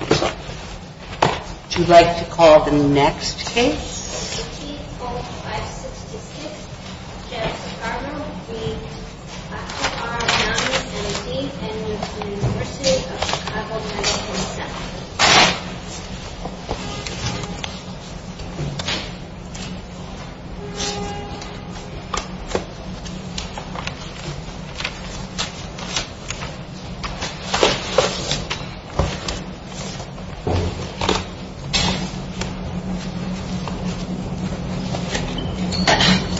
Would you like to call the next case? Case No. 54566, Jennifer Farmer v. Akihara Yamini, M.D. and U.S. University of Chicago, Minnesota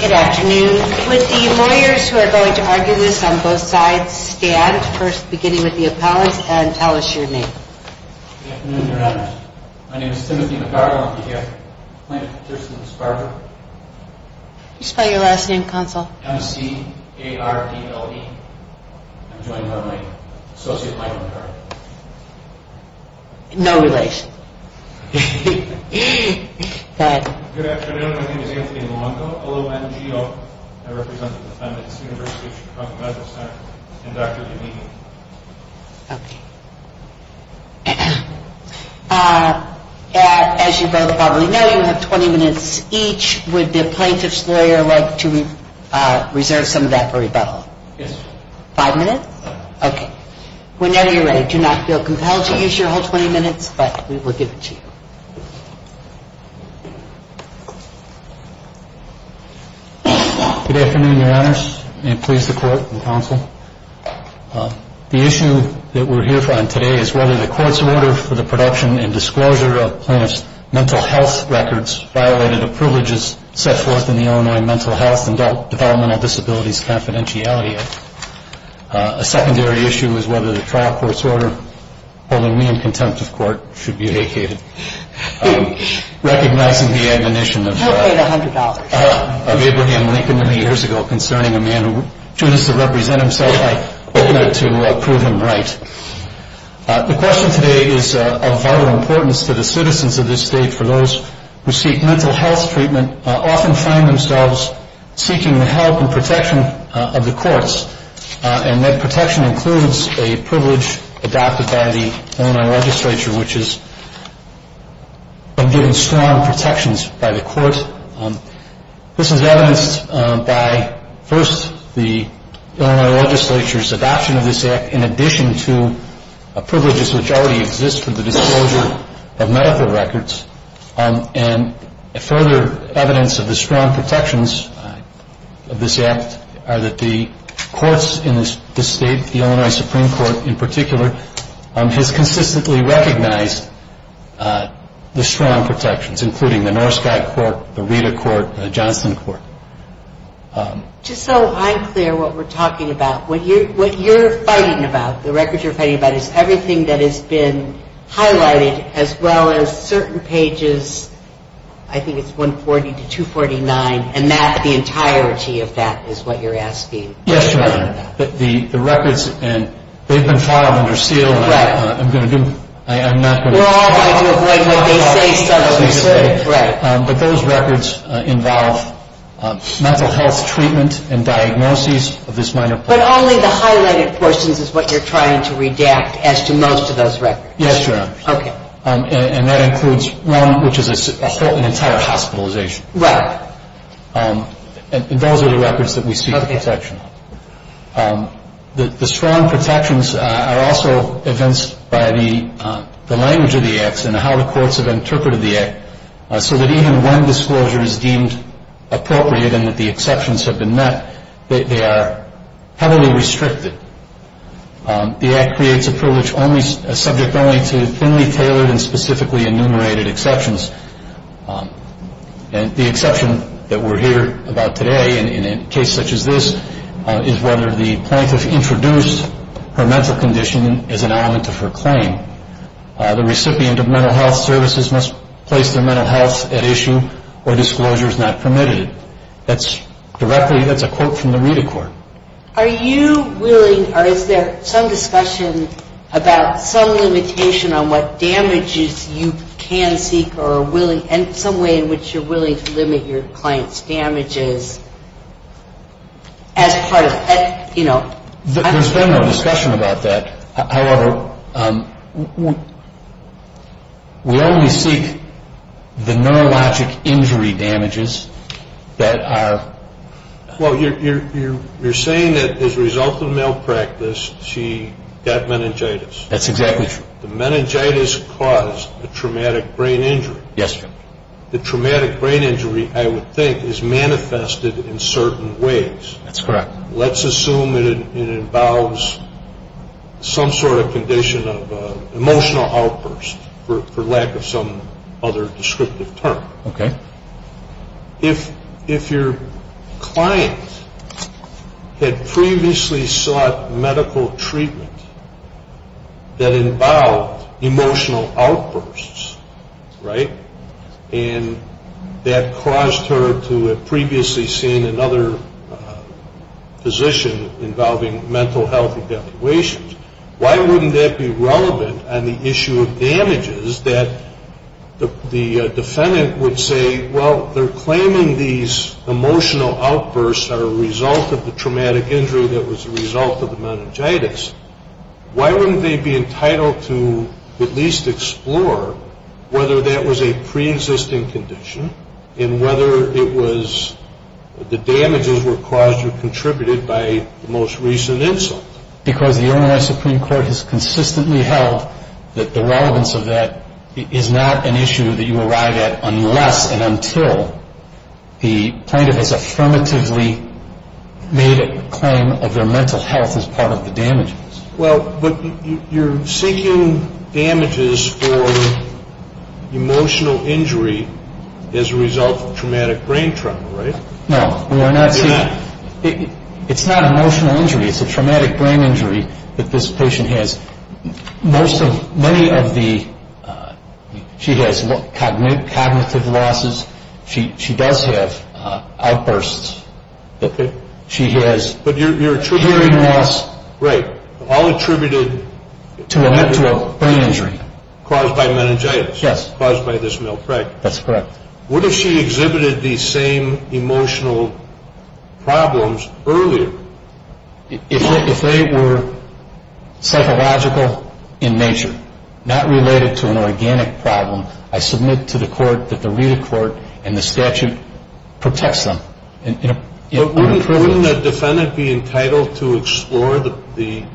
Good afternoon. Would the lawyers who are going to argue this on both sides stand, first beginning with the appellant, and tell us your name. Good afternoon, Your Honor. My name is Timothy McCarville, I'll be here. My first name is Farger. Can you spell your last name, counsel? M-C-A-R-D-L-E. I'm joined by my associate, Michael McCarville. No relation. Good afternoon. My name is Anthony Malonco, L-O-N-G-O. I represent the defendants, University of Chicago Medical Center, and Dr. Yamini. As you both probably know, you have 20 minutes each. Would the plaintiff's lawyer like to reserve some of that for rebuttal? Yes. Five minutes? Okay. Whenever you're ready. Do not feel compelled to use your whole 20 minutes, but we will give it to you. Good afternoon, Your Honors. May it please the court and counsel. The issue that we're here for today is whether the court's order for the production and disclosure of plaintiff's mental health records violated the privileges set forth in the Illinois Mental Health and Developmental Disabilities Confidentiality Act. A secondary issue is whether the trial court's order holding me in contempt of court should be vacated. Recognizing the admonition of Abraham Lincoln many years ago concerning a man who chooses to represent himself, I hope to prove him right. The question today is of vital importance to the citizens of this state for those who seek mental health treatment often find themselves seeking the help and protection of the courts. And that protection includes a privilege adopted by the Illinois legislature, which is giving strong protections by the court. This is evidenced by first the Illinois legislature's adoption of this act in addition to privileges which already exist for the disclosure of medical records. And further evidence of the strong protections of this act are that the courts in this state, the Illinois Supreme Court in particular, has consistently recognized the strong protections, including the Norskag Court, the Rita Court, and the Johnston Court. Just so I'm clear what we're talking about, what you're fighting about, the records you're fighting about, is everything that has been highlighted as well as certain pages, I think it's 140 to 249, and that the entirety of that is what you're asking. Yes, Your Honor. The records, and they've been filed under seal. Right. I'm going to do, I'm not going to. We're all going to avoid what they say. Right. But those records involve mental health treatment and diagnoses of this minor. But only the highlighted portions is what you're trying to redact as to most of those records. Yes, Your Honor. Okay. And that includes one which is an entire hospitalization. Right. And those are the records that we seek protection. Okay. The strong protections are also evinced by the language of the acts and how the courts have interpreted the act, so that even when disclosure is deemed appropriate and that the exceptions have been met, they are heavily restricted. The act creates a privilege subject only to thinly tailored and specifically enumerated exceptions. And the exception that we're hearing about today in a case such as this is whether the plaintiff introduced her mental condition as an element of her claim. The recipient of mental health services must place their mental health at issue or disclosure is not permitted. That's directly, that's a quote from the Rita court. Are you willing, or is there some discussion about some limitation on what damages you can seek or are willing, and some way in which you're willing to limit your client's damages as part of, you know. There's been no discussion about that. However, we only seek the neurologic injury damages that are. Well, you're saying that as a result of malpractice, she got meningitis. That's exactly true. The meningitis caused a traumatic brain injury. Yes, sir. The traumatic brain injury, I would think, is manifested in certain ways. That's correct. Let's assume it involves some sort of condition of emotional outburst, for lack of some other descriptive term. Okay. If your client had previously sought medical treatment that involved emotional outbursts, right, and that caused her to have previously seen another physician involving mental health evaluations, why wouldn't that be relevant on the issue of damages that the defendant would say, well, they're claiming these emotional outbursts are a result of the traumatic injury that was a result of the meningitis. Why wouldn't they be entitled to at least explore whether that was a preexisting condition and whether it was the damages were caused or contributed by the most recent insult? Because the Illinois Supreme Court has consistently held that the relevance of that is not an issue that you arrive at unless and until the plaintiff has affirmatively made a claim of their mental health as part of the damages. Well, but you're seeking damages for emotional injury as a result of traumatic brain trauma, right? No. You're not? It's not emotional injury. It's a traumatic brain injury that this patient has. Most of, many of the, she has cognitive losses. She does have outbursts. Okay. She has hearing loss. Right. All attributed to a brain injury caused by meningitis. Yes. Caused by this milk. Right. That's correct. What if she exhibited these same emotional problems earlier? If they were psychological in nature, not related to an organic problem, I submit to the court that the reader court and the statute protects them. But wouldn't a defendant be entitled to explore the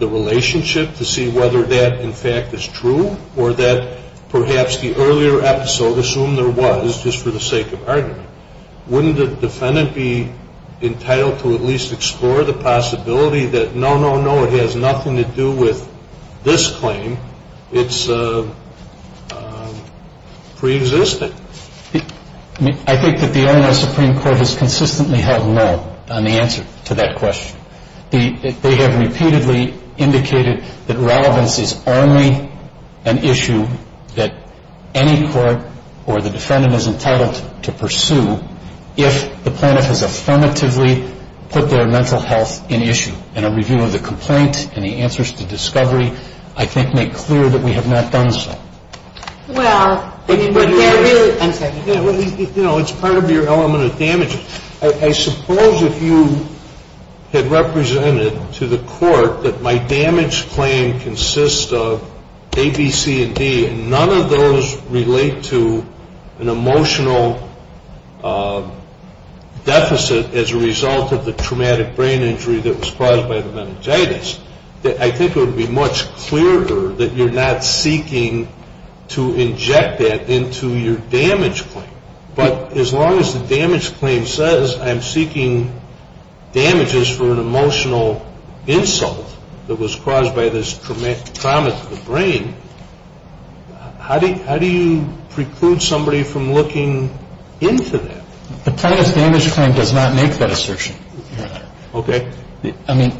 relationship to see whether that, in fact, is true or that perhaps the earlier episode, assume there was just for the sake of argument, wouldn't the defendant be entitled to at least explore the possibility that no, no, no, it has nothing to do with this claim. It's preexisting. I think that the Illinois Supreme Court has consistently held no on the answer to that question. They have repeatedly indicated that relevance is only an issue that any court or the defendant is entitled to pursue if the plaintiff has affirmatively put their mental health in issue. And a review of the complaint and the answers to discovery, I think, make clear that we have not done so. Well, there is, I'm sorry. You know, it's part of your element of damage. I suppose if you had represented to the court that my damage claim consists of A, B, C, and D, and none of those relate to an emotional deficit as a result of the traumatic brain injury that was caused by the meningitis, I think it would be much clearer that you're not seeking to inject that into your damage claim. But as long as the damage claim says I'm seeking damages for an emotional insult that was caused by this traumatic brain, how do you preclude somebody from looking into that? The plaintiff's damage claim does not make that assertion, Your Honor. Okay. I mean,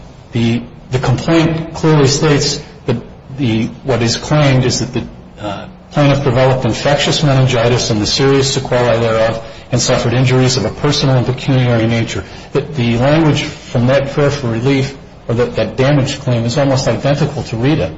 the complaint clearly states that the, what is claimed is that the plaintiff developed infectious meningitis and the serious sequelae thereof and suffered injuries of a personal and pecuniary nature. The language from that prayer for relief or that damage claim is almost identical to Rita.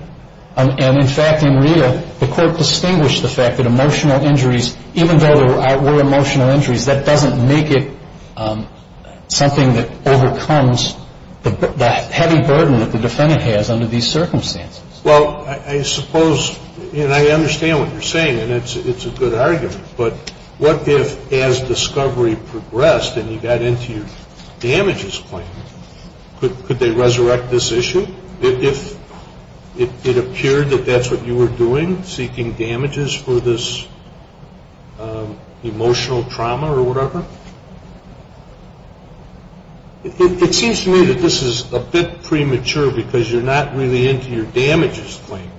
And, in fact, in Rita, the court distinguished the fact that emotional injuries, even though there were emotional injuries, that doesn't make it something that overcomes the heavy burden that the defendant has under these circumstances. Well, I suppose, and I understand what you're saying, and it's a good argument, but what if, as discovery progressed and you got into your damages claim, could they resurrect this issue? If it appeared that that's what you were doing, seeking damages for this emotional trauma or whatever? It seems to me that this is a bit premature because you're not really into your damages claim.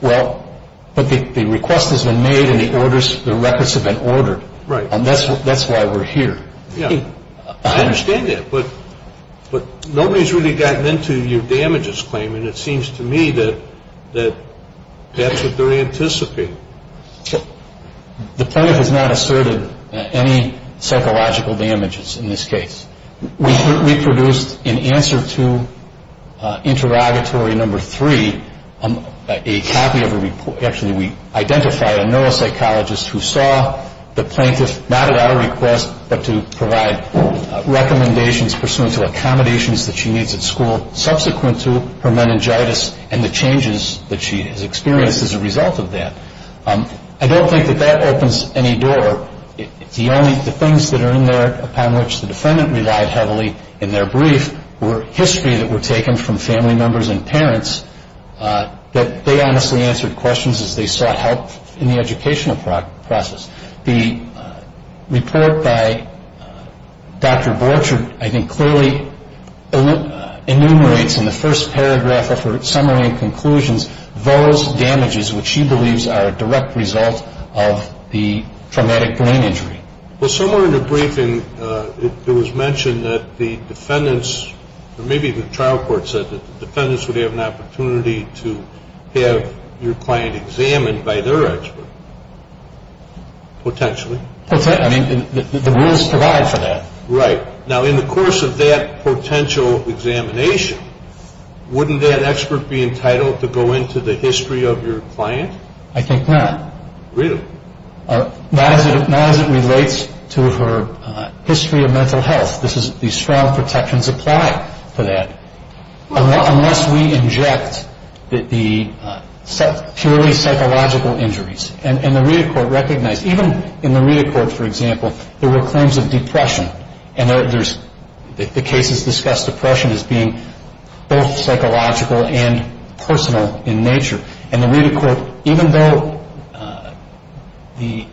Well, but the request has been made and the orders, the records have been ordered. Right. And that's why we're here. Yeah. I understand that. But nobody's really gotten into your damages claim, and it seems to me that that's what they're anticipating. The plaintiff has not asserted any psychological damages in this case. We produced, in answer to interrogatory number three, a copy of a report. Actually, we identified a neuropsychologist who saw the plaintiff, not at our request, but to provide recommendations pursuant to accommodations that she needs at school, subsequent to her meningitis and the changes that she has experienced as a result of that. I don't think that that opens any door. The things that are in there, upon which the defendant relied heavily in their brief, were history that were taken from family members and parents that they honestly answered questions as they sought help in the educational process. The report by Dr. Borchert, I think, clearly enumerates in the first paragraph of her summary and conclusions those damages which she believes are a direct result of the traumatic brain injury. Well, somewhere in the briefing, it was mentioned that the defendants, or maybe the trial court said that the defendants would have an opportunity to have your client examined by their expert. Potentially. I mean, the rules provide for that. Right. Now, in the course of that potential examination, wouldn't that expert be entitled to go into the history of your client? I think not. Really? Not as it relates to her history of mental health. These strong protections apply for that. Unless we inject the purely psychological injuries. And the Rita court recognized, even in the Rita court, for example, there were claims of depression. And the cases discussed depression as being both psychological and personal in nature. And the Rita court, even though the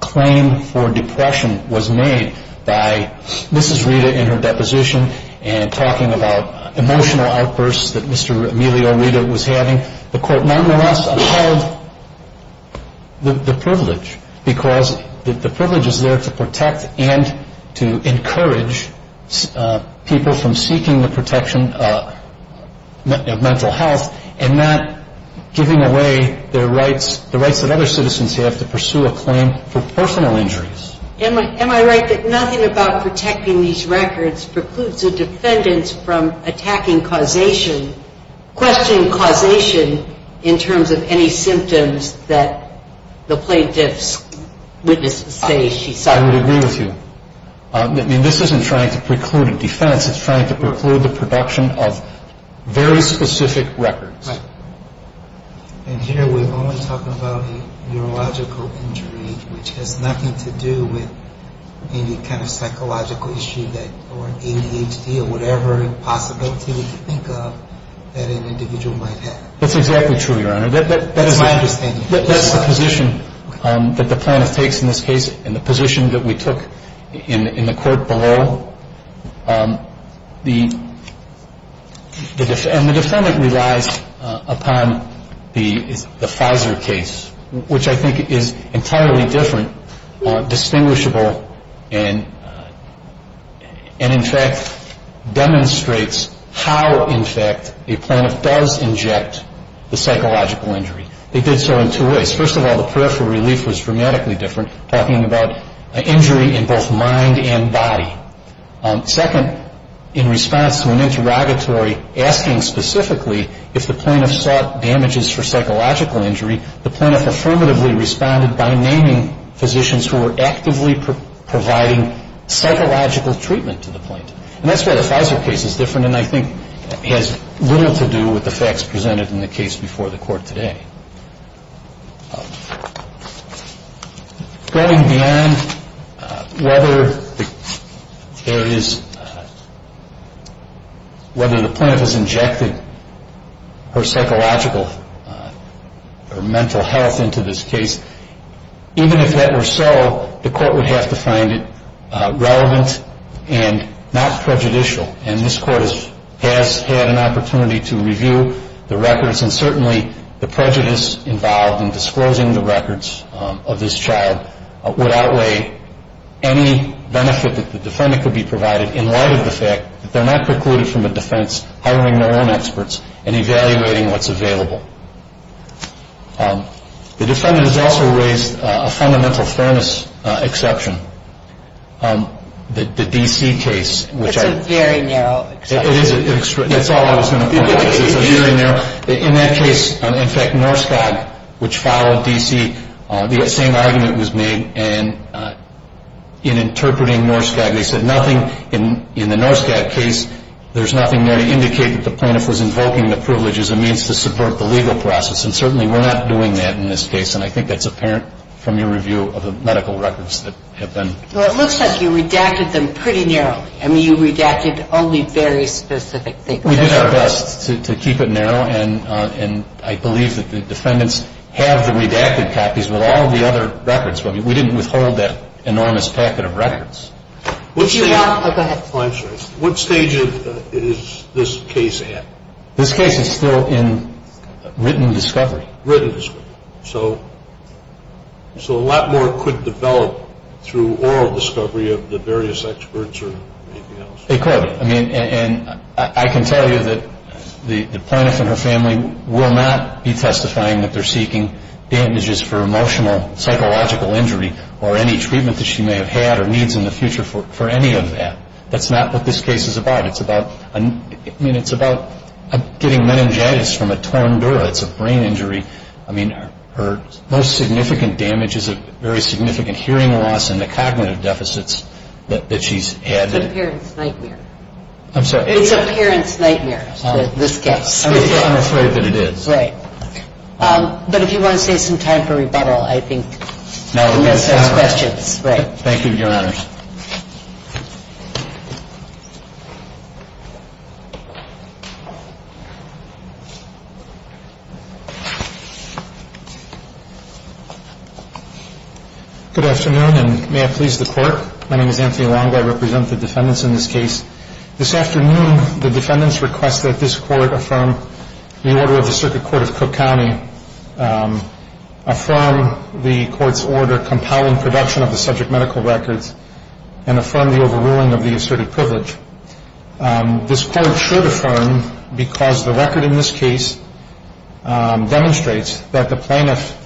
claim for depression was made by Mrs. Rita in her deposition and talking about emotional outbursts that Mr. Emilio Rita was having, the court nonetheless upheld the privilege because the privilege is there to protect and to encourage people from seeking the protection of mental health and not giving away their rights, the rights that other citizens have to pursue a claim for personal injuries. Am I right that nothing about protecting these records precludes a defendant from attacking causation, questioning causation in terms of any symptoms that the plaintiff's witnesses say she saw? I would agree with you. I mean, this isn't trying to preclude a defense. It's trying to preclude the production of very specific records. Right. And here we're only talking about a neurological injury, which has nothing to do with any kind of psychological issue or ADHD or whatever possibility we can think of that an individual might have. That's exactly true, Your Honor. That's my understanding. That's the position that the plaintiff takes in this case and the position that we took in the court below. And the defendant relies upon the Pfizer case, which I think is entirely different, distinguishable, and in fact demonstrates how, in fact, a plaintiff does inject the psychological injury. They did so in two ways. First of all, the peripheral relief was dramatically different, talking about an injury in both mind and body. Second, in response to an interrogatory asking specifically if the plaintiff sought damages for psychological injury, the plaintiff affirmatively responded by naming physicians who were actively providing psychological treatment to the plaintiff. And that's why the Pfizer case is different and I think has little to do with the facts presented in the case before the court today. Going beyond whether the plaintiff has injected her psychological or mental health into this case, even if that were so, the court would have to find it relevant and not prejudicial, and this court has had an opportunity to review the records and certainly the prejudice involved in disclosing the records of this child would outweigh any benefit that the defendant could be provided in light of the fact that they're not precluded from a defense hiring their own experts and evaluating what's available. The defendant has also raised a fundamental fairness exception, the D.C. case. It's a very narrow exception. It is. That's all I was going to point out. In that case, in fact, Norskag, which followed D.C., the same argument was made and in interpreting Norskag they said nothing in the Norskag case, there's nothing there to indicate that the plaintiff was invoking the privilege as a means to subvert the legal process, and certainly we're not doing that in this case, and I think that's apparent from your review of the medical records that have been. Well, it looks like you redacted them pretty narrowly. I mean, you redacted only very specific things. We did our best to keep it narrow, and I believe that the defendants have the redacted copies with all the other records, but we didn't withhold that enormous packet of records. I'll go ahead. I'm sorry. What stage is this case at? This case is still in written discovery. Written discovery. So a lot more could develop through oral discovery of the various experts or anything else. I can tell you that the plaintiff and her family will not be testifying that they're seeking damages for emotional, psychological injury or any treatment that she may have had or needs in the future for any of that. That's not what this case is about. It's about getting meningitis from a torn dura. It's a brain injury. I mean, her most significant damage is a very significant hearing loss and the cognitive deficits that she's had. It's a parent's nightmare. I'm sorry. It's a parent's nightmare, this case. I'm afraid that it is. Right. But if you want to save some time for rebuttal, I think, unless there's questions. Thank you, Your Honor. Good afternoon, and may I please the Court? My name is Anthony Long. I represent the defendants in this case. This afternoon, the defendants request that this Court affirm the order of the Circuit Court of Cook County, affirm the Court's order compiling production of the subject medical records, and affirm the overruling of the asserted privilege. This Court should affirm because the record in this case demonstrates that the plaintiff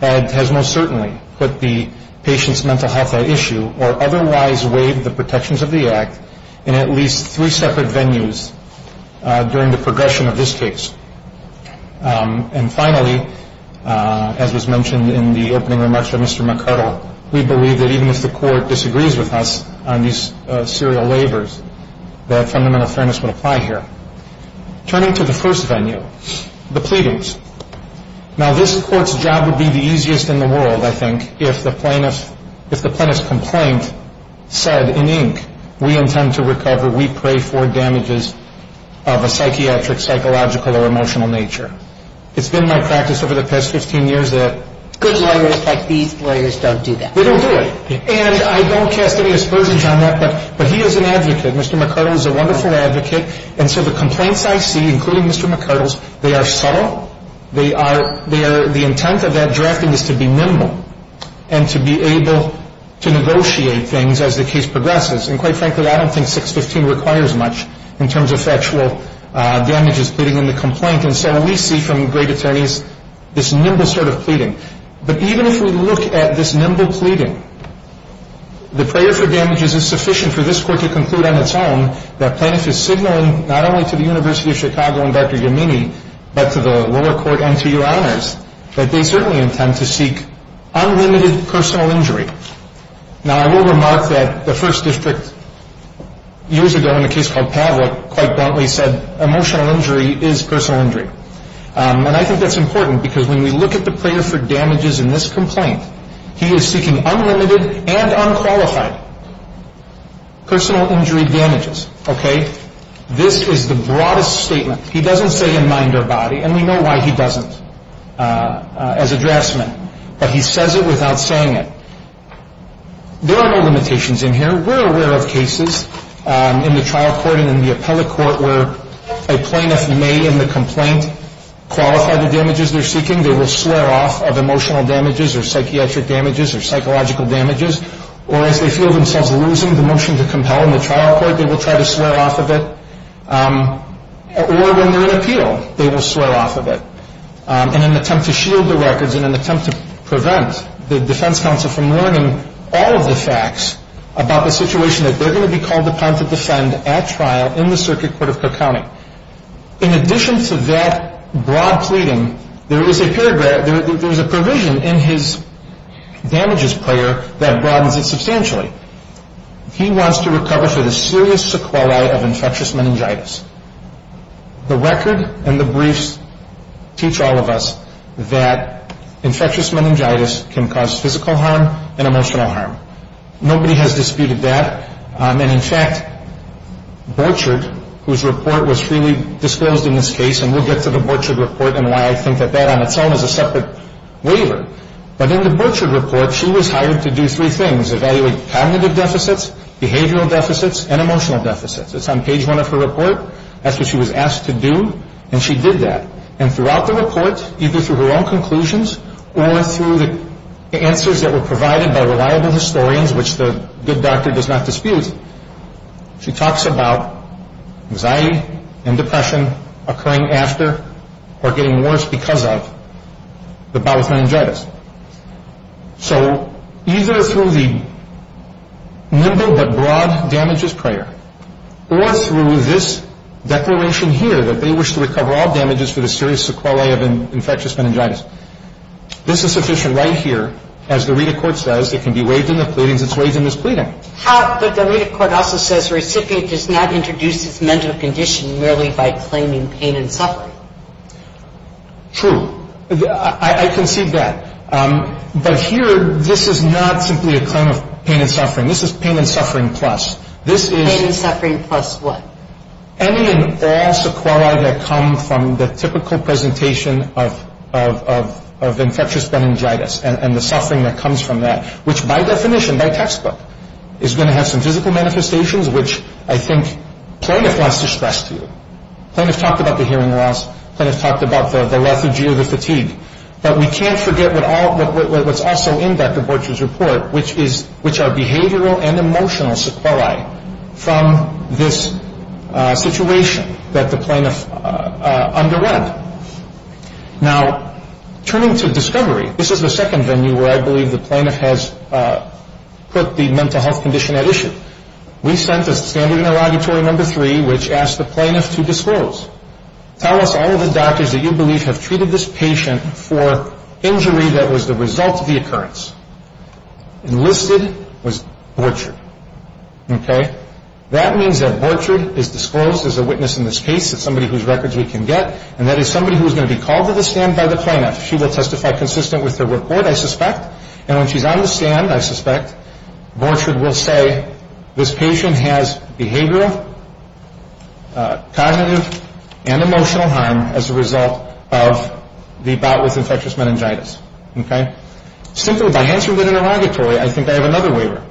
has most certainly put the patient's mental health at issue or otherwise waived the protections of the act in at least three separate venues during the progression of this case. And finally, as was mentioned in the opening remarks from Mr. McCardle, we believe that even if the Court disagrees with us on these serial labors, that fundamental fairness would apply here. Turning to the first venue, the pleadings. Now, this Court's job would be the easiest in the world, I think, if the plaintiff's complaint said in ink, we intend to recover, we pray for, damages of a psychiatric, psychological, or emotional nature. It's been my practice over the past 15 years that good lawyers like these lawyers don't do that. They don't do it. And I don't cast any aspersions on that, but he is an advocate. Mr. McCardle is a wonderful advocate. And so the complaints I see, including Mr. McCardle's, they are subtle. They are the intent of that drafting is to be nimble and to be able to negotiate things as the case progresses. And quite frankly, I don't think 615 requires much in terms of factual damages pleading in the complaint. And so we see from great attorneys this nimble sort of pleading. But even if we look at this nimble pleading, the prayer for damages is sufficient for this Court to conclude on its own that plaintiff is signaling not only to the University of Chicago and Dr. Yamini, but to the lower court and to your honors, that they certainly intend to seek unlimited personal injury. Now, I will remark that the First District years ago in a case called Pavlik quite bluntly said emotional injury is personal injury. And I think that's important because when we look at the prayer for damages in this complaint, he is seeking unlimited and unqualified personal injury damages, okay? This is the broadest statement. He doesn't say in mind or body, and we know why he doesn't as a draftsman, but he says it without saying it. There are no limitations in here. We're aware of cases in the trial court and in the appellate court where a plaintiff may in the complaint qualify the damages they're seeking. They will swear off of emotional damages or psychiatric damages or psychological damages. Or as they feel themselves losing the motion to compel in the trial court, they will try to swear off of it. Or when they're in appeal, they will swear off of it. In an attempt to shield the records, in an attempt to prevent the defense counsel from learning all of the facts about the situation that they're going to be called upon to defend at trial in the circuit court of Cook County. In addition to that broad pleading, there is a provision in his damages prayer that broadens it substantially. He wants to recover for the serious sequelae of infectious meningitis. The record and the briefs teach all of us that infectious meningitis can cause physical harm and emotional harm. Nobody has disputed that. And in fact, Borchardt, whose report was freely disclosed in this case, and we'll get to the Borchardt report and why I think that that on its own is a separate waiver. But in the Borchardt report, she was hired to do three things. Evaluate cognitive deficits, behavioral deficits, and emotional deficits. It's on page one of her report. That's what she was asked to do. And she did that. And throughout the report, either through her own conclusions or through the answers that were provided by reliable historians, which the good doctor does not dispute, she talks about anxiety and depression occurring after or getting worse because of the bowel meningitis. So either through the nimble but broad damages prayer or through this declaration here that they wish to recover all damages for the serious sequelae of infectious meningitis. This is sufficient right here. As the Rita court says, it can be waived in the pleadings. It's waived in this pleading. But the Rita court also says recipient does not introduce his mental condition merely by claiming pain and suffering. True. I concede that. But here, this is not simply a claim of pain and suffering. This is pain and suffering plus. Pain and suffering plus what? Any and all sequelae that come from the typical presentation of infectious meningitis and the suffering that comes from that, which by definition, by textbook, is going to have some physical manifestations, which I think plaintiff wants to stress to you. Plaintiff talked about the hearing loss. Plaintiff talked about the lethargy or the fatigue. But we can't forget what's also in Dr. Borchardt's report, which are behavioral and emotional sequelae from this situation that the plaintiff underwent. Now, turning to discovery, this is the second venue where I believe the plaintiff has put the mental health condition at issue. We sent a standard interrogatory number three, which asked the plaintiff to disclose. Tell us all of the doctors that you believe have treated this patient for injury that was the result of the occurrence. And listed was Borchardt. Okay? That means that Borchardt is disclosed as a witness in this case. It's somebody whose records we can get, and that is somebody who is going to be called to the stand by the plaintiff. She will testify consistent with her report, I suspect. And when she's on the stand, I suspect, Borchardt will say, this patient has behavioral, cognitive, and emotional harm as a result of the bout with infectious meningitis. Okay? Simply by answering the interrogatory, I think I have another waiver.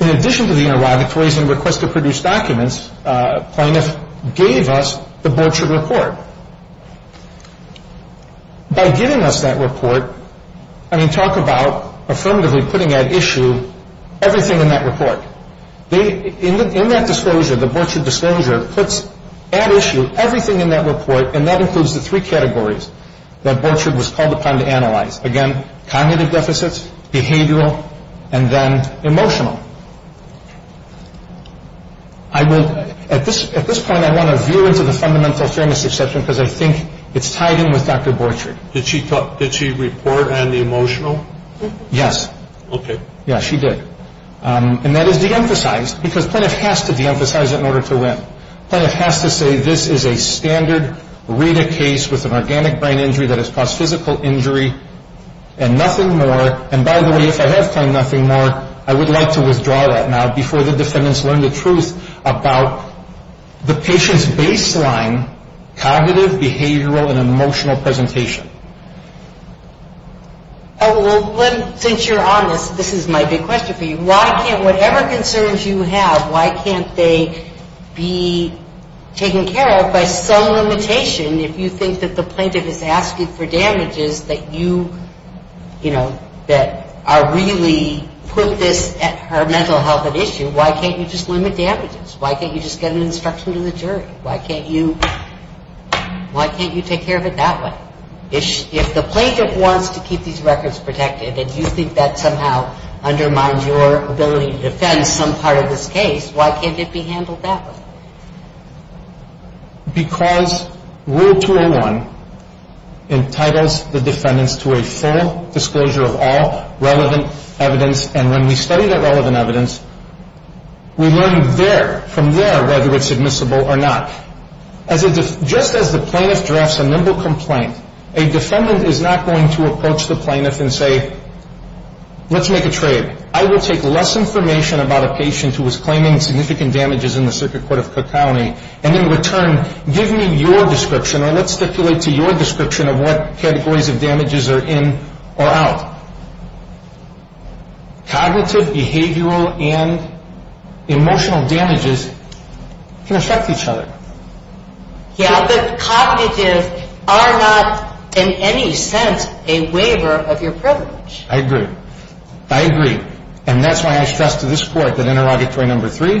In addition to the interrogatories and request to produce documents, plaintiff gave us the Borchardt report. By giving us that report, I mean talk about affirmatively putting at issue everything in that report. In that disclosure, the Borchardt disclosure puts at issue everything in that report, and that includes the three categories that Borchardt was called upon to analyze. Again, cognitive deficits, behavioral, and then emotional. At this point, I want to veer into the fundamental fairness exception because I think it's tied in with Dr. Borchardt. Did she report on the emotional? Yes. Okay. Yeah, she did. And that is deemphasized because plaintiff has to deemphasize it in order to win. Plaintiff has to say this is a standard RITA case with an organic brain injury that has caused physical injury and nothing more. And by the way, if I have claimed nothing more, I would like to withdraw that now before the defendants learn the truth about the patient's baseline cognitive, behavioral, and emotional presentation. Well, since you're on this, this is my big question for you. Why can't whatever concerns you have, why can't they be taken care of by some limitation? If you think that the plaintiff is asking for damages that you, you know, that are really putting this at her mental health at issue, why can't you just limit damages? Why can't you just get an instruction to the jury? Why can't you take care of it that way? If the plaintiff wants to keep these records protected and you think that somehow undermines your ability to defend some part of this case, why can't it be handled that way? Because Rule 201 entitles the defendants to a full disclosure of all relevant evidence, and when we study that relevant evidence, we learn there, from there, whether it's admissible or not. Just as the plaintiff drafts a nimble complaint, a defendant is not going to approach the plaintiff and say, let's make a trade. I will take less information about a patient who was claiming significant damages in the circuit court of Cook County, and in return, give me your description, or let's stipulate to your description, of what categories of damages are in or out. Cognitive, behavioral, and emotional damages can affect each other. Yeah, but cognitive are not, in any sense, a waiver of your privilege. I agree. I agree. And that's why I stress to this Court that interrogatory number three,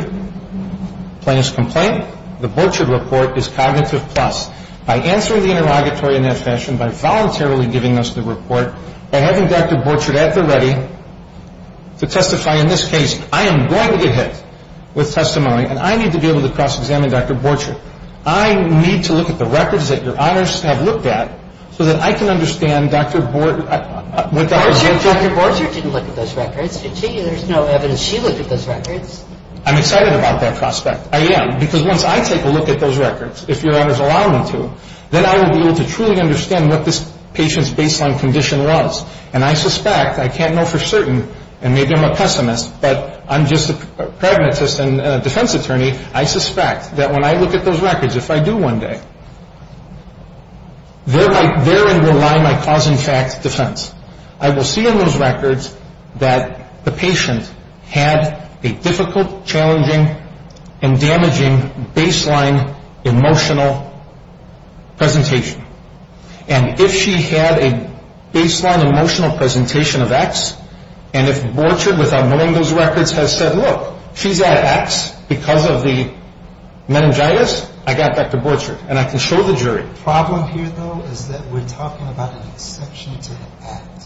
plaintiff's complaint, the Borchardt report, is cognitive plus. By answering the interrogatory in that fashion, by voluntarily giving us the report, by having Dr. Borchardt at the ready to testify in this case, I am going to get hit with testimony, and I need to be able to cross-examine Dr. Borchardt. I need to look at the records that your honors have looked at so that I can understand Dr. Borchardt. Dr. Borchardt didn't look at those records, did she? There's no evidence she looked at those records. I'm excited about that prospect. Yeah, because once I take a look at those records, if your honors allow me to, then I will be able to truly understand what this patient's baseline condition was. And I suspect, I can't know for certain, and maybe I'm a pessimist, but I'm just a pragmatist and a defense attorney, I suspect that when I look at those records, if I do one day, therein will lie my cause and effect defense. I will see in those records that the patient had a difficult, challenging, and damaging baseline emotional presentation. And if she had a baseline emotional presentation of X, and if Borchardt, without knowing those records, has said, look, she's at X because of the meningitis, I got Dr. Borchardt, and I can show the jury. The problem here, though, is that we're talking about an exception to the act.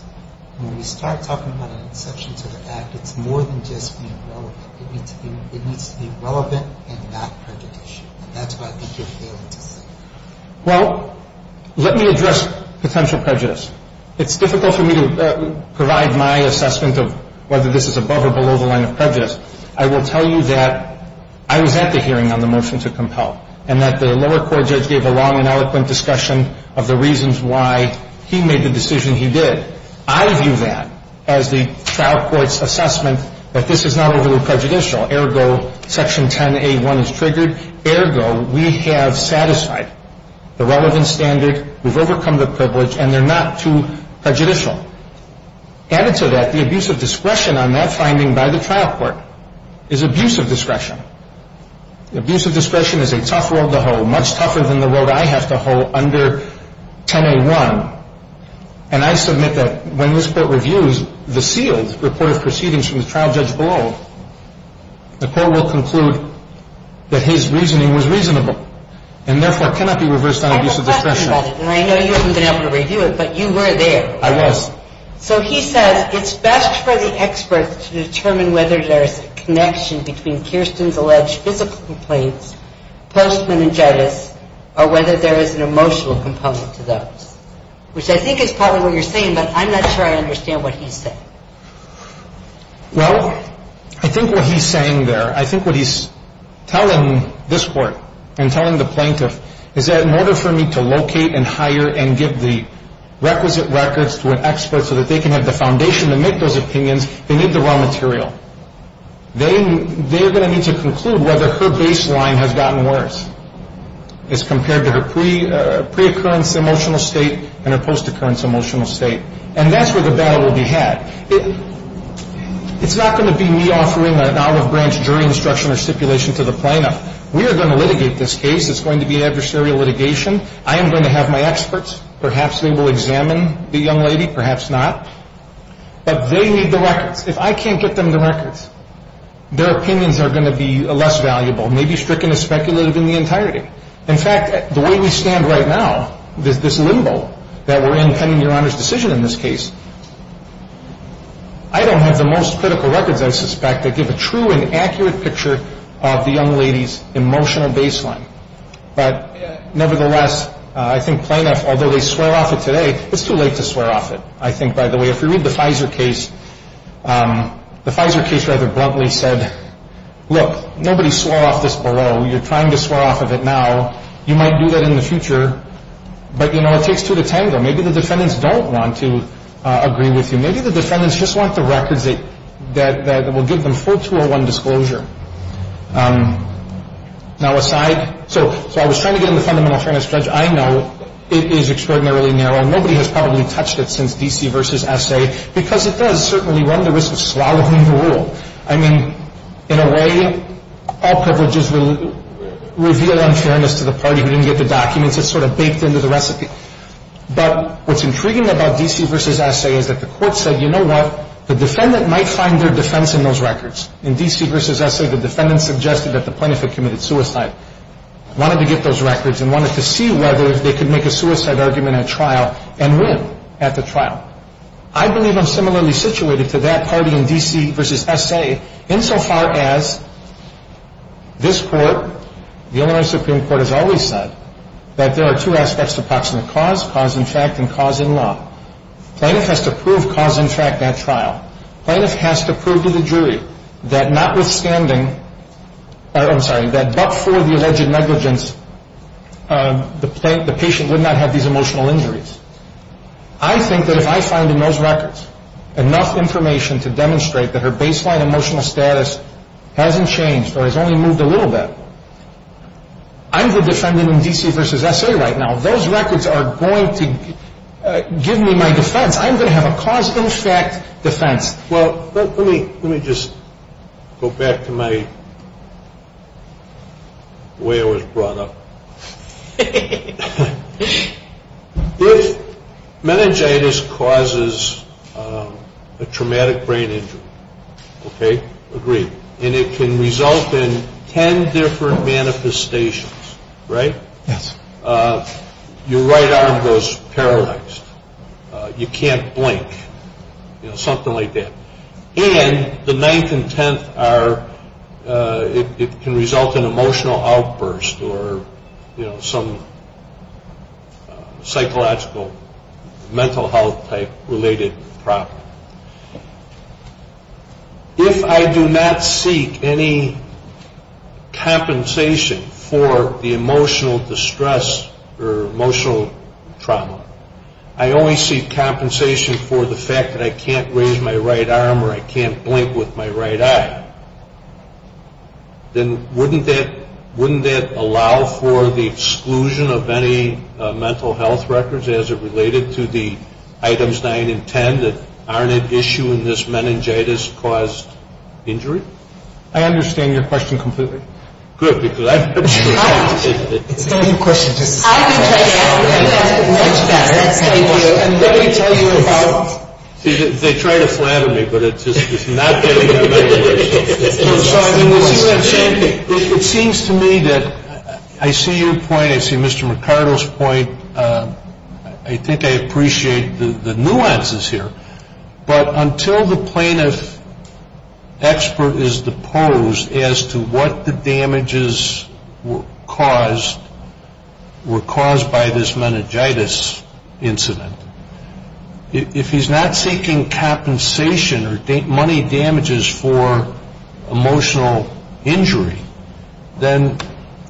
When we start talking about an exception to the act, it's more than just being relevant. It needs to be relevant and not prejudicial, and that's what I think you're failing to see. Well, let me address potential prejudice. It's difficult for me to provide my assessment of whether this is above or below the line of prejudice. I will tell you that I was at the hearing on the motion to compel and that the lower court judge gave a long and eloquent discussion of the reasons why he made the decision he did. I view that as the trial court's assessment that this is not overly prejudicial. Ergo, Section 10A1 is triggered. Ergo, we have satisfied the relevant standard. We've overcome the privilege, and they're not too prejudicial. Added to that, the abuse of discretion on that finding by the trial court is abuse of discretion. Abuse of discretion is a tough road to hoe, much tougher than the road I have to hoe under 10A1, and I submit that when this court reviews the sealed report of proceedings from the trial judge below, the court will conclude that his reasoning was reasonable and therefore cannot be reversed on abuse of discretion. I have a question about it, and I know you haven't been able to review it, but you were there. I was. So he says it's best for the expert to determine whether there is a connection between Kirsten's alleged physical complaints post-meningitis or whether there is an emotional component to those, which I think is probably what you're saying, but I'm not sure I understand what he's saying. Well, I think what he's saying there, I think what he's telling this court and telling the plaintiff is that in order for me to locate and hire and give the requisite records to an expert so that they can have the foundation to make those opinions, they need the raw material. They're going to need to conclude whether her baseline has gotten worse as compared to her pre-occurrence emotional state and her post-occurrence emotional state, and that's where the battle will be had. It's not going to be me offering an out-of-branch jury instruction or stipulation to the plaintiff. We are going to litigate this case. It's going to be adversarial litigation. I am going to have my experts. Perhaps they will examine the young lady, perhaps not, but they need the records. If I can't get them the records, their opinions are going to be less valuable, maybe stricken as speculative in the entirety. In fact, the way we stand right now, this limbo that we're in pending Your Honor's decision in this case, I don't have the most critical records, I suspect, that give a true and accurate picture of the young lady's emotional baseline. But nevertheless, I think plaintiff, although they swear off it today, it's too late to swear off it, I think, by the way. If you read the FISA case, the FISA case rather bluntly said, look, nobody swore off this below. You're trying to swear off of it now. You might do that in the future, but, you know, it takes two to tango. Maybe the defendants don't want to agree with you. Maybe the defendants just want the records that will give them full 201 disclosure. Now aside, so I was trying to get in the fundamental fairness judge. I know it is extraordinarily narrow. Nobody has probably touched it since D.C. versus S.A. because it does certainly run the risk of swallowing the rule. I mean, in a way, all privileges reveal unfairness to the party who didn't get the documents. It's sort of baked into the recipe. But what's intriguing about D.C. versus S.A. is that the court said, you know what, the defendant might find their defense in those records. In D.C. versus S.A., the defendant suggested that the plaintiff had committed suicide, wanted to get those records, and wanted to see whether they could make a suicide argument at trial and win at the trial. I believe I'm similarly situated to that party in D.C. versus S.A. insofar as this Court, the Illinois Supreme Court, has always said that there are two aspects to proximate cause, cause in fact and cause in law. Plaintiff has to prove cause in fact at trial. Plaintiff has to prove to the jury that notwithstanding, I'm sorry, that but for the alleged negligence, the patient would not have these emotional injuries. I think that if I find in those records enough information to demonstrate that her baseline emotional status hasn't changed or has only moved a little bit, I'm the defendant in D.C. versus S.A. right now. Those records are going to give me my defense. I'm going to have a cause in fact defense. Well, let me just go back to my way I was brought up. If meningitis causes a traumatic brain injury, okay, agreed, and it can result in ten different manifestations, right? Yes. Your right arm goes paralyzed. You can't blink. You know, something like that. And the ninth and tenth are it can result in emotional outbursts or some psychological mental health type related problem. If I do not seek any compensation for the emotional distress or emotional trauma, I only seek compensation for the fact that I can't raise my right arm or I can't blink with my right eye, then wouldn't that allow for the exclusion of any mental health records as it related to the items nine and ten that aren't at issue in this meningitis-caused injury? I understand your question completely. Good, because I've been through that. It's a good question. I've been through that. Let me tell you about it. They try to flatter me, but it's not getting to my ears. I'm sorry. I think I appreciate the nuances here, but until the plaintiff expert is deposed as to what the damages were caused by this meningitis incident, if he's not seeking compensation or money damages for emotional injury, then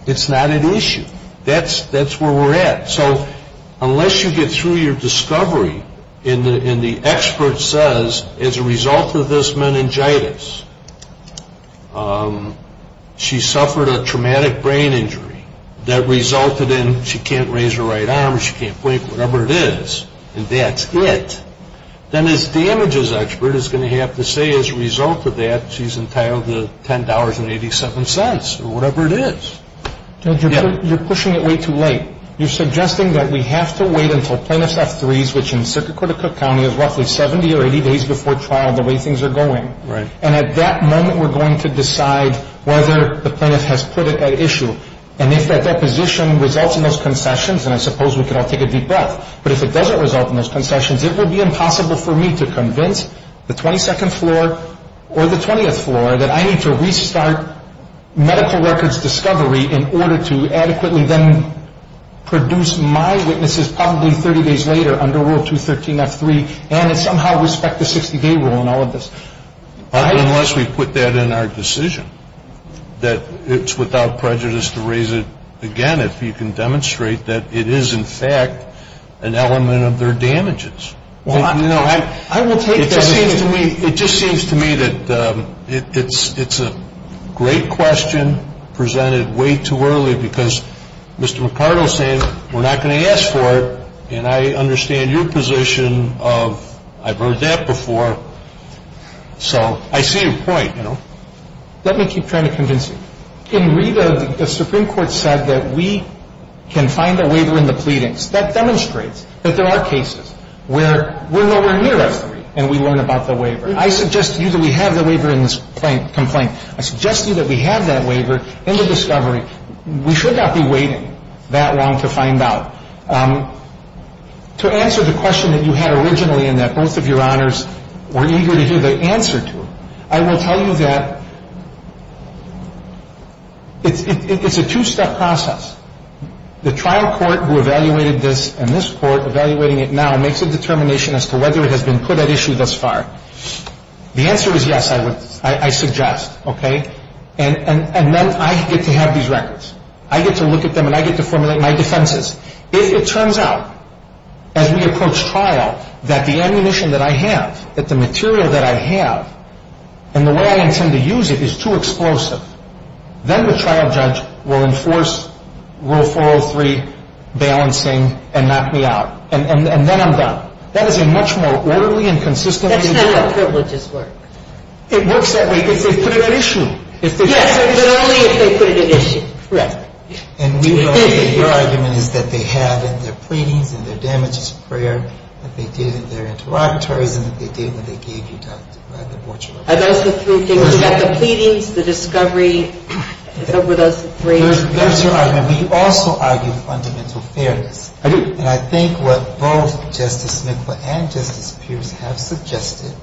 it's not at issue. That's where we're at. So unless you get through your discovery and the expert says as a result of this meningitis, she suffered a traumatic brain injury that resulted in she can't raise her right arm or she can't blink, whatever it is, and that's it, then this damages expert is going to have to say as a result of that she's entitled to $10.87 or whatever it is. You're pushing it way too late. You're suggesting that we have to wait until plaintiff's F3s, which in Syracuse County is roughly 70 or 80 days before trial, the way things are going. Right. And at that moment we're going to decide whether the plaintiff has put it at issue. And if that deposition results in those concessions, and I suppose we can all take a deep breath, but if it doesn't result in those concessions, it would be impossible for me to convince the 22nd floor or the 20th floor that I need to restart medical records discovery in order to adequately then produce my witnesses probably 30 days later under Rule 213 F3 and somehow respect the 60-day rule in all of this. Unless we put that in our decision that it's without prejudice to raise it again if you can demonstrate that it is in fact an element of their damages. It just seems to me that it's a great question presented way too early because Mr. Ricardo is saying we're not going to ask for it, and I understand your position of I've heard that before. So I see your point, you know. Let me keep trying to convince you. In Rita, the Supreme Court said that we can find a waiver in the pleadings. That demonstrates that there are cases where we're nowhere near F3 and we learn about the waiver. I suggest to you that we have the waiver in this complaint. I suggest to you that we have that waiver in the discovery. We should not be waiting that long to find out. To answer the question that you had originally and that both of your honors were eager to hear the answer to, I will tell you that it's a two-step process. The trial court who evaluated this and this court evaluating it now makes a determination as to whether it has been put at issue thus far. The answer is yes, I suggest. And then I get to have these records. I get to look at them and I get to formulate my defenses. If it turns out as we approach trial that the ammunition that I have, that the material that I have, and the way I intend to use it is too explosive, then the trial judge will enforce Rule 403 balancing and knock me out. And then I'm done. That is a much more orderly and consistent way to do it. That's not how privileges work. It works that way if they put it at issue. Yes, but only if they put it at issue. Correct. And we know that your argument is that they have in their pleadings, in their damages of prayer, that they did in their interrogatories and that they did when they gave you the abortion report. Are those the three things? You've got the pleadings, the discovery. Were those the three? That's your argument. We also argue fundamental fairness. I do. And I think what both Justice Smith and Justice Pierce have suggested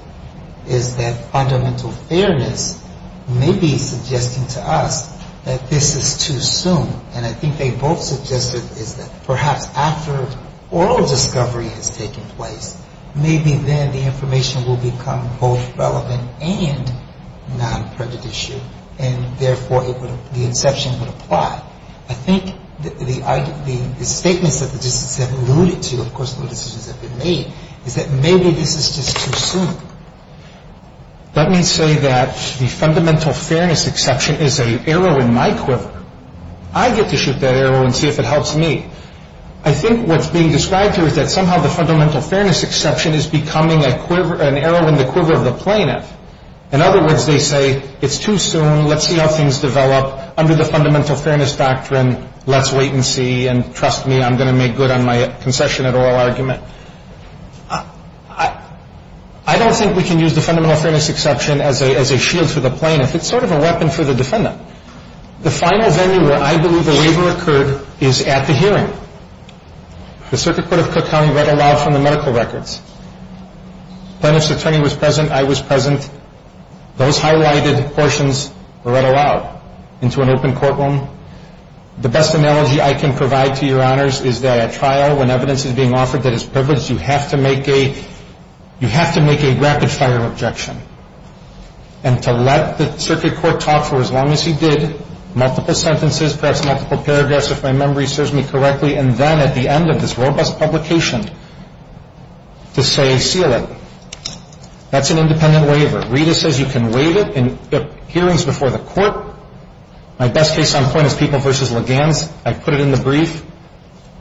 is that fundamental fairness may be suggesting to us that this is too soon. And I think they both suggested is that perhaps after oral discovery has taken place, maybe then the information will become both relevant and non-prejudicial, and therefore the inception would apply. I think the statements that the justices have alluded to, of course, no decisions have been made, is that maybe this is just too soon. Let me say that the fundamental fairness exception is an arrow in my quiver. I get to shoot that arrow and see if it helps me. I think what's being described here is that somehow the fundamental fairness exception is becoming an arrow in the quiver of the plaintiff. In other words, they say it's too soon, let's see how things develop. Under the fundamental fairness doctrine, let's wait and see. And trust me, I'm going to make good on my concession at oral argument. I don't think we can use the fundamental fairness exception as a shield for the plaintiff. It's sort of a weapon for the defendant. The final venue where I believe a waiver occurred is at the hearing. The Circuit Court of Cook County read aloud from the medical records. Plaintiff's attorney was present, I was present. Those highlighted portions were read aloud into an open courtroom. The best analogy I can provide to your honors is that at trial, when evidence is being offered that is privileged, you have to make a rapid-fire objection. And to let the circuit court talk for as long as he did, multiple sentences, perhaps multiple paragraphs, if my memory serves me correctly, and then at the end of this robust publication to say seal it. That's an independent waiver. Rita says you can waive it in hearings before the court. My best case on point is People v. Legans. I put it in the brief.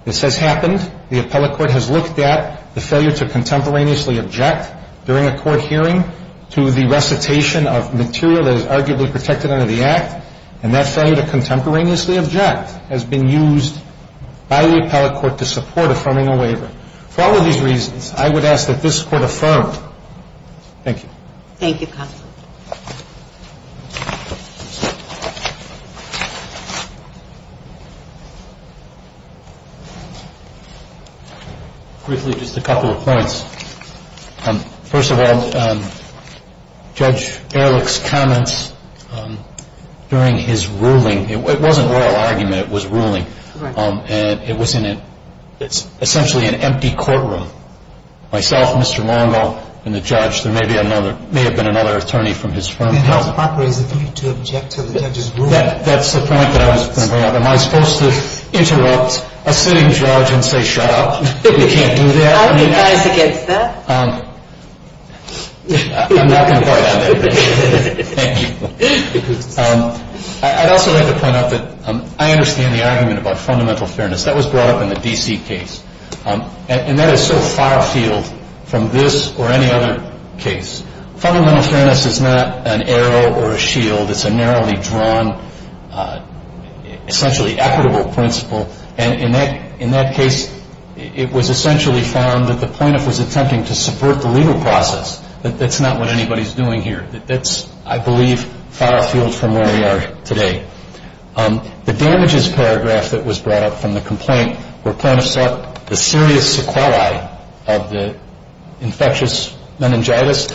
This has happened. The appellate court has looked at the failure to contemporaneously object during a court hearing to the recitation of material that is arguably protected under the Act. And that failure to contemporaneously object has been used by the appellate court to support affirming a waiver. For all of these reasons, I would ask that this Court affirm. Thank you. Thank you, counsel. Briefly, just a couple of points. First of all, Judge Ehrlich's comments during his ruling, it wasn't a royal argument. It was ruling. And it was in essentially an empty courtroom. Myself, Mr. Longo, and the judge, there may have been another attorney from his firm. It helped operate to object to the judge's ruling. That's the point that I was going to bring up. Am I supposed to interrupt a sitting judge and say, shut up? You can't do that. How are you guys against that? I'm not going to go out there. Thank you. I'd also like to point out that I understand the argument about fundamental fairness. That was brought up in the D.C. case. And that is so far-field from this or any other case. Fundamental fairness is not an arrow or a shield. It's a narrowly drawn, essentially equitable principle. And in that case, it was essentially found that the plaintiff was attempting to subvert the legal process. That's not what anybody's doing here. That's, I believe, far-field from where we are today. The damages paragraph that was brought up from the complaint, where plaintiffs sought the serious sequelae of the infectious meningitis.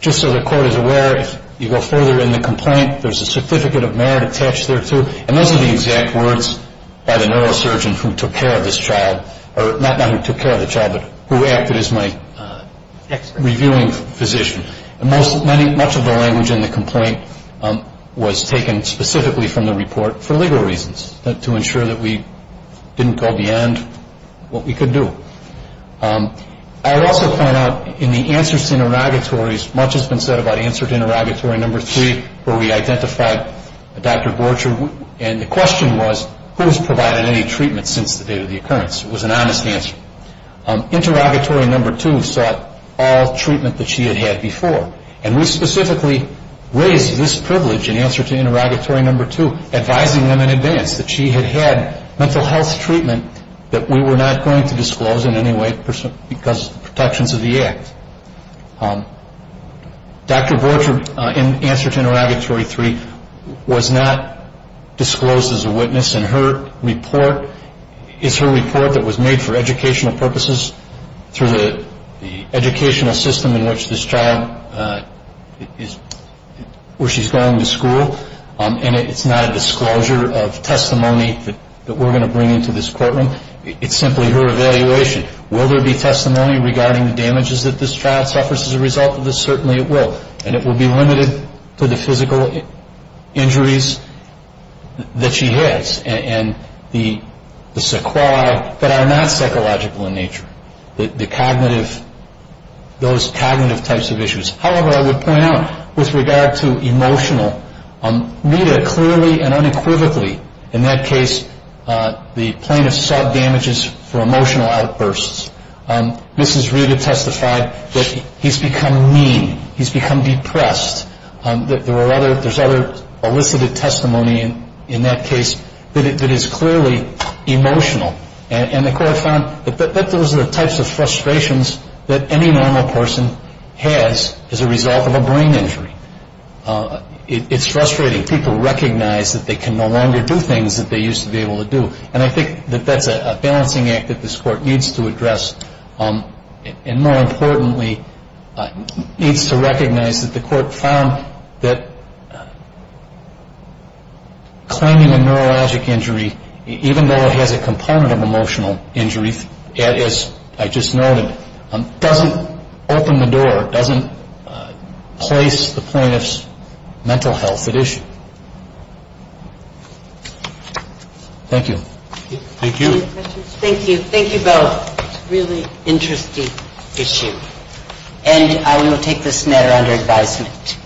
Just so the Court is aware, if you go further in the complaint, there's a certificate of merit attached there, too. And those are the exact words by the neurosurgeon who took care of this child. Not who took care of the child, but who acted as my reviewing physician. And much of the language in the complaint was taken specifically from the report for legal reasons, to ensure that we didn't go beyond what we could do. I would also point out, in the answers to interrogatories, much has been said about answer to interrogatory number three, where we identified Dr. Borcher. And the question was, who has provided any treatment since the date of the occurrence? It was an honest answer. Interrogatory number two sought all treatment that she had had before. And we specifically raised this privilege in answer to interrogatory number two, advising them in advance that she had had mental health treatment that we were not going to disclose in any way because of the protections of the Act. Dr. Borcher, in answer to interrogatory three, was not disclosed as a witness. And her report is her report that was made for educational purposes, through the educational system in which this child, where she's going to school. And it's not a disclosure of testimony that we're going to bring into this courtroom. It's simply her evaluation. Will there be testimony regarding the damages that this child suffers as a result of this? Certainly it will. And it will be limited to the physical injuries that she has, and the sequelae that are not psychological in nature, the cognitive, those cognitive types of issues. However, I would point out, with regard to emotional, Rita clearly and unequivocally, in that case, the plaintiff saw damages for emotional outbursts. Mrs. Rita testified that he's become mean. He's become depressed. There's other elicited testimony in that case that is clearly emotional. And the court found that those are the types of frustrations that any normal person has as a result of a brain injury. It's frustrating. People recognize that they can no longer do things that they used to be able to do. And I think that that's a balancing act that this court needs to address. And more importantly, needs to recognize that the court found that claiming a neurologic injury, even though it has a component of emotional injury, as I just noted, doesn't open the door, doesn't place the plaintiff's mental health at issue. Thank you. Thank you. Thank you. Thank you both. Really interesting issue. And I will take this matter under advisement.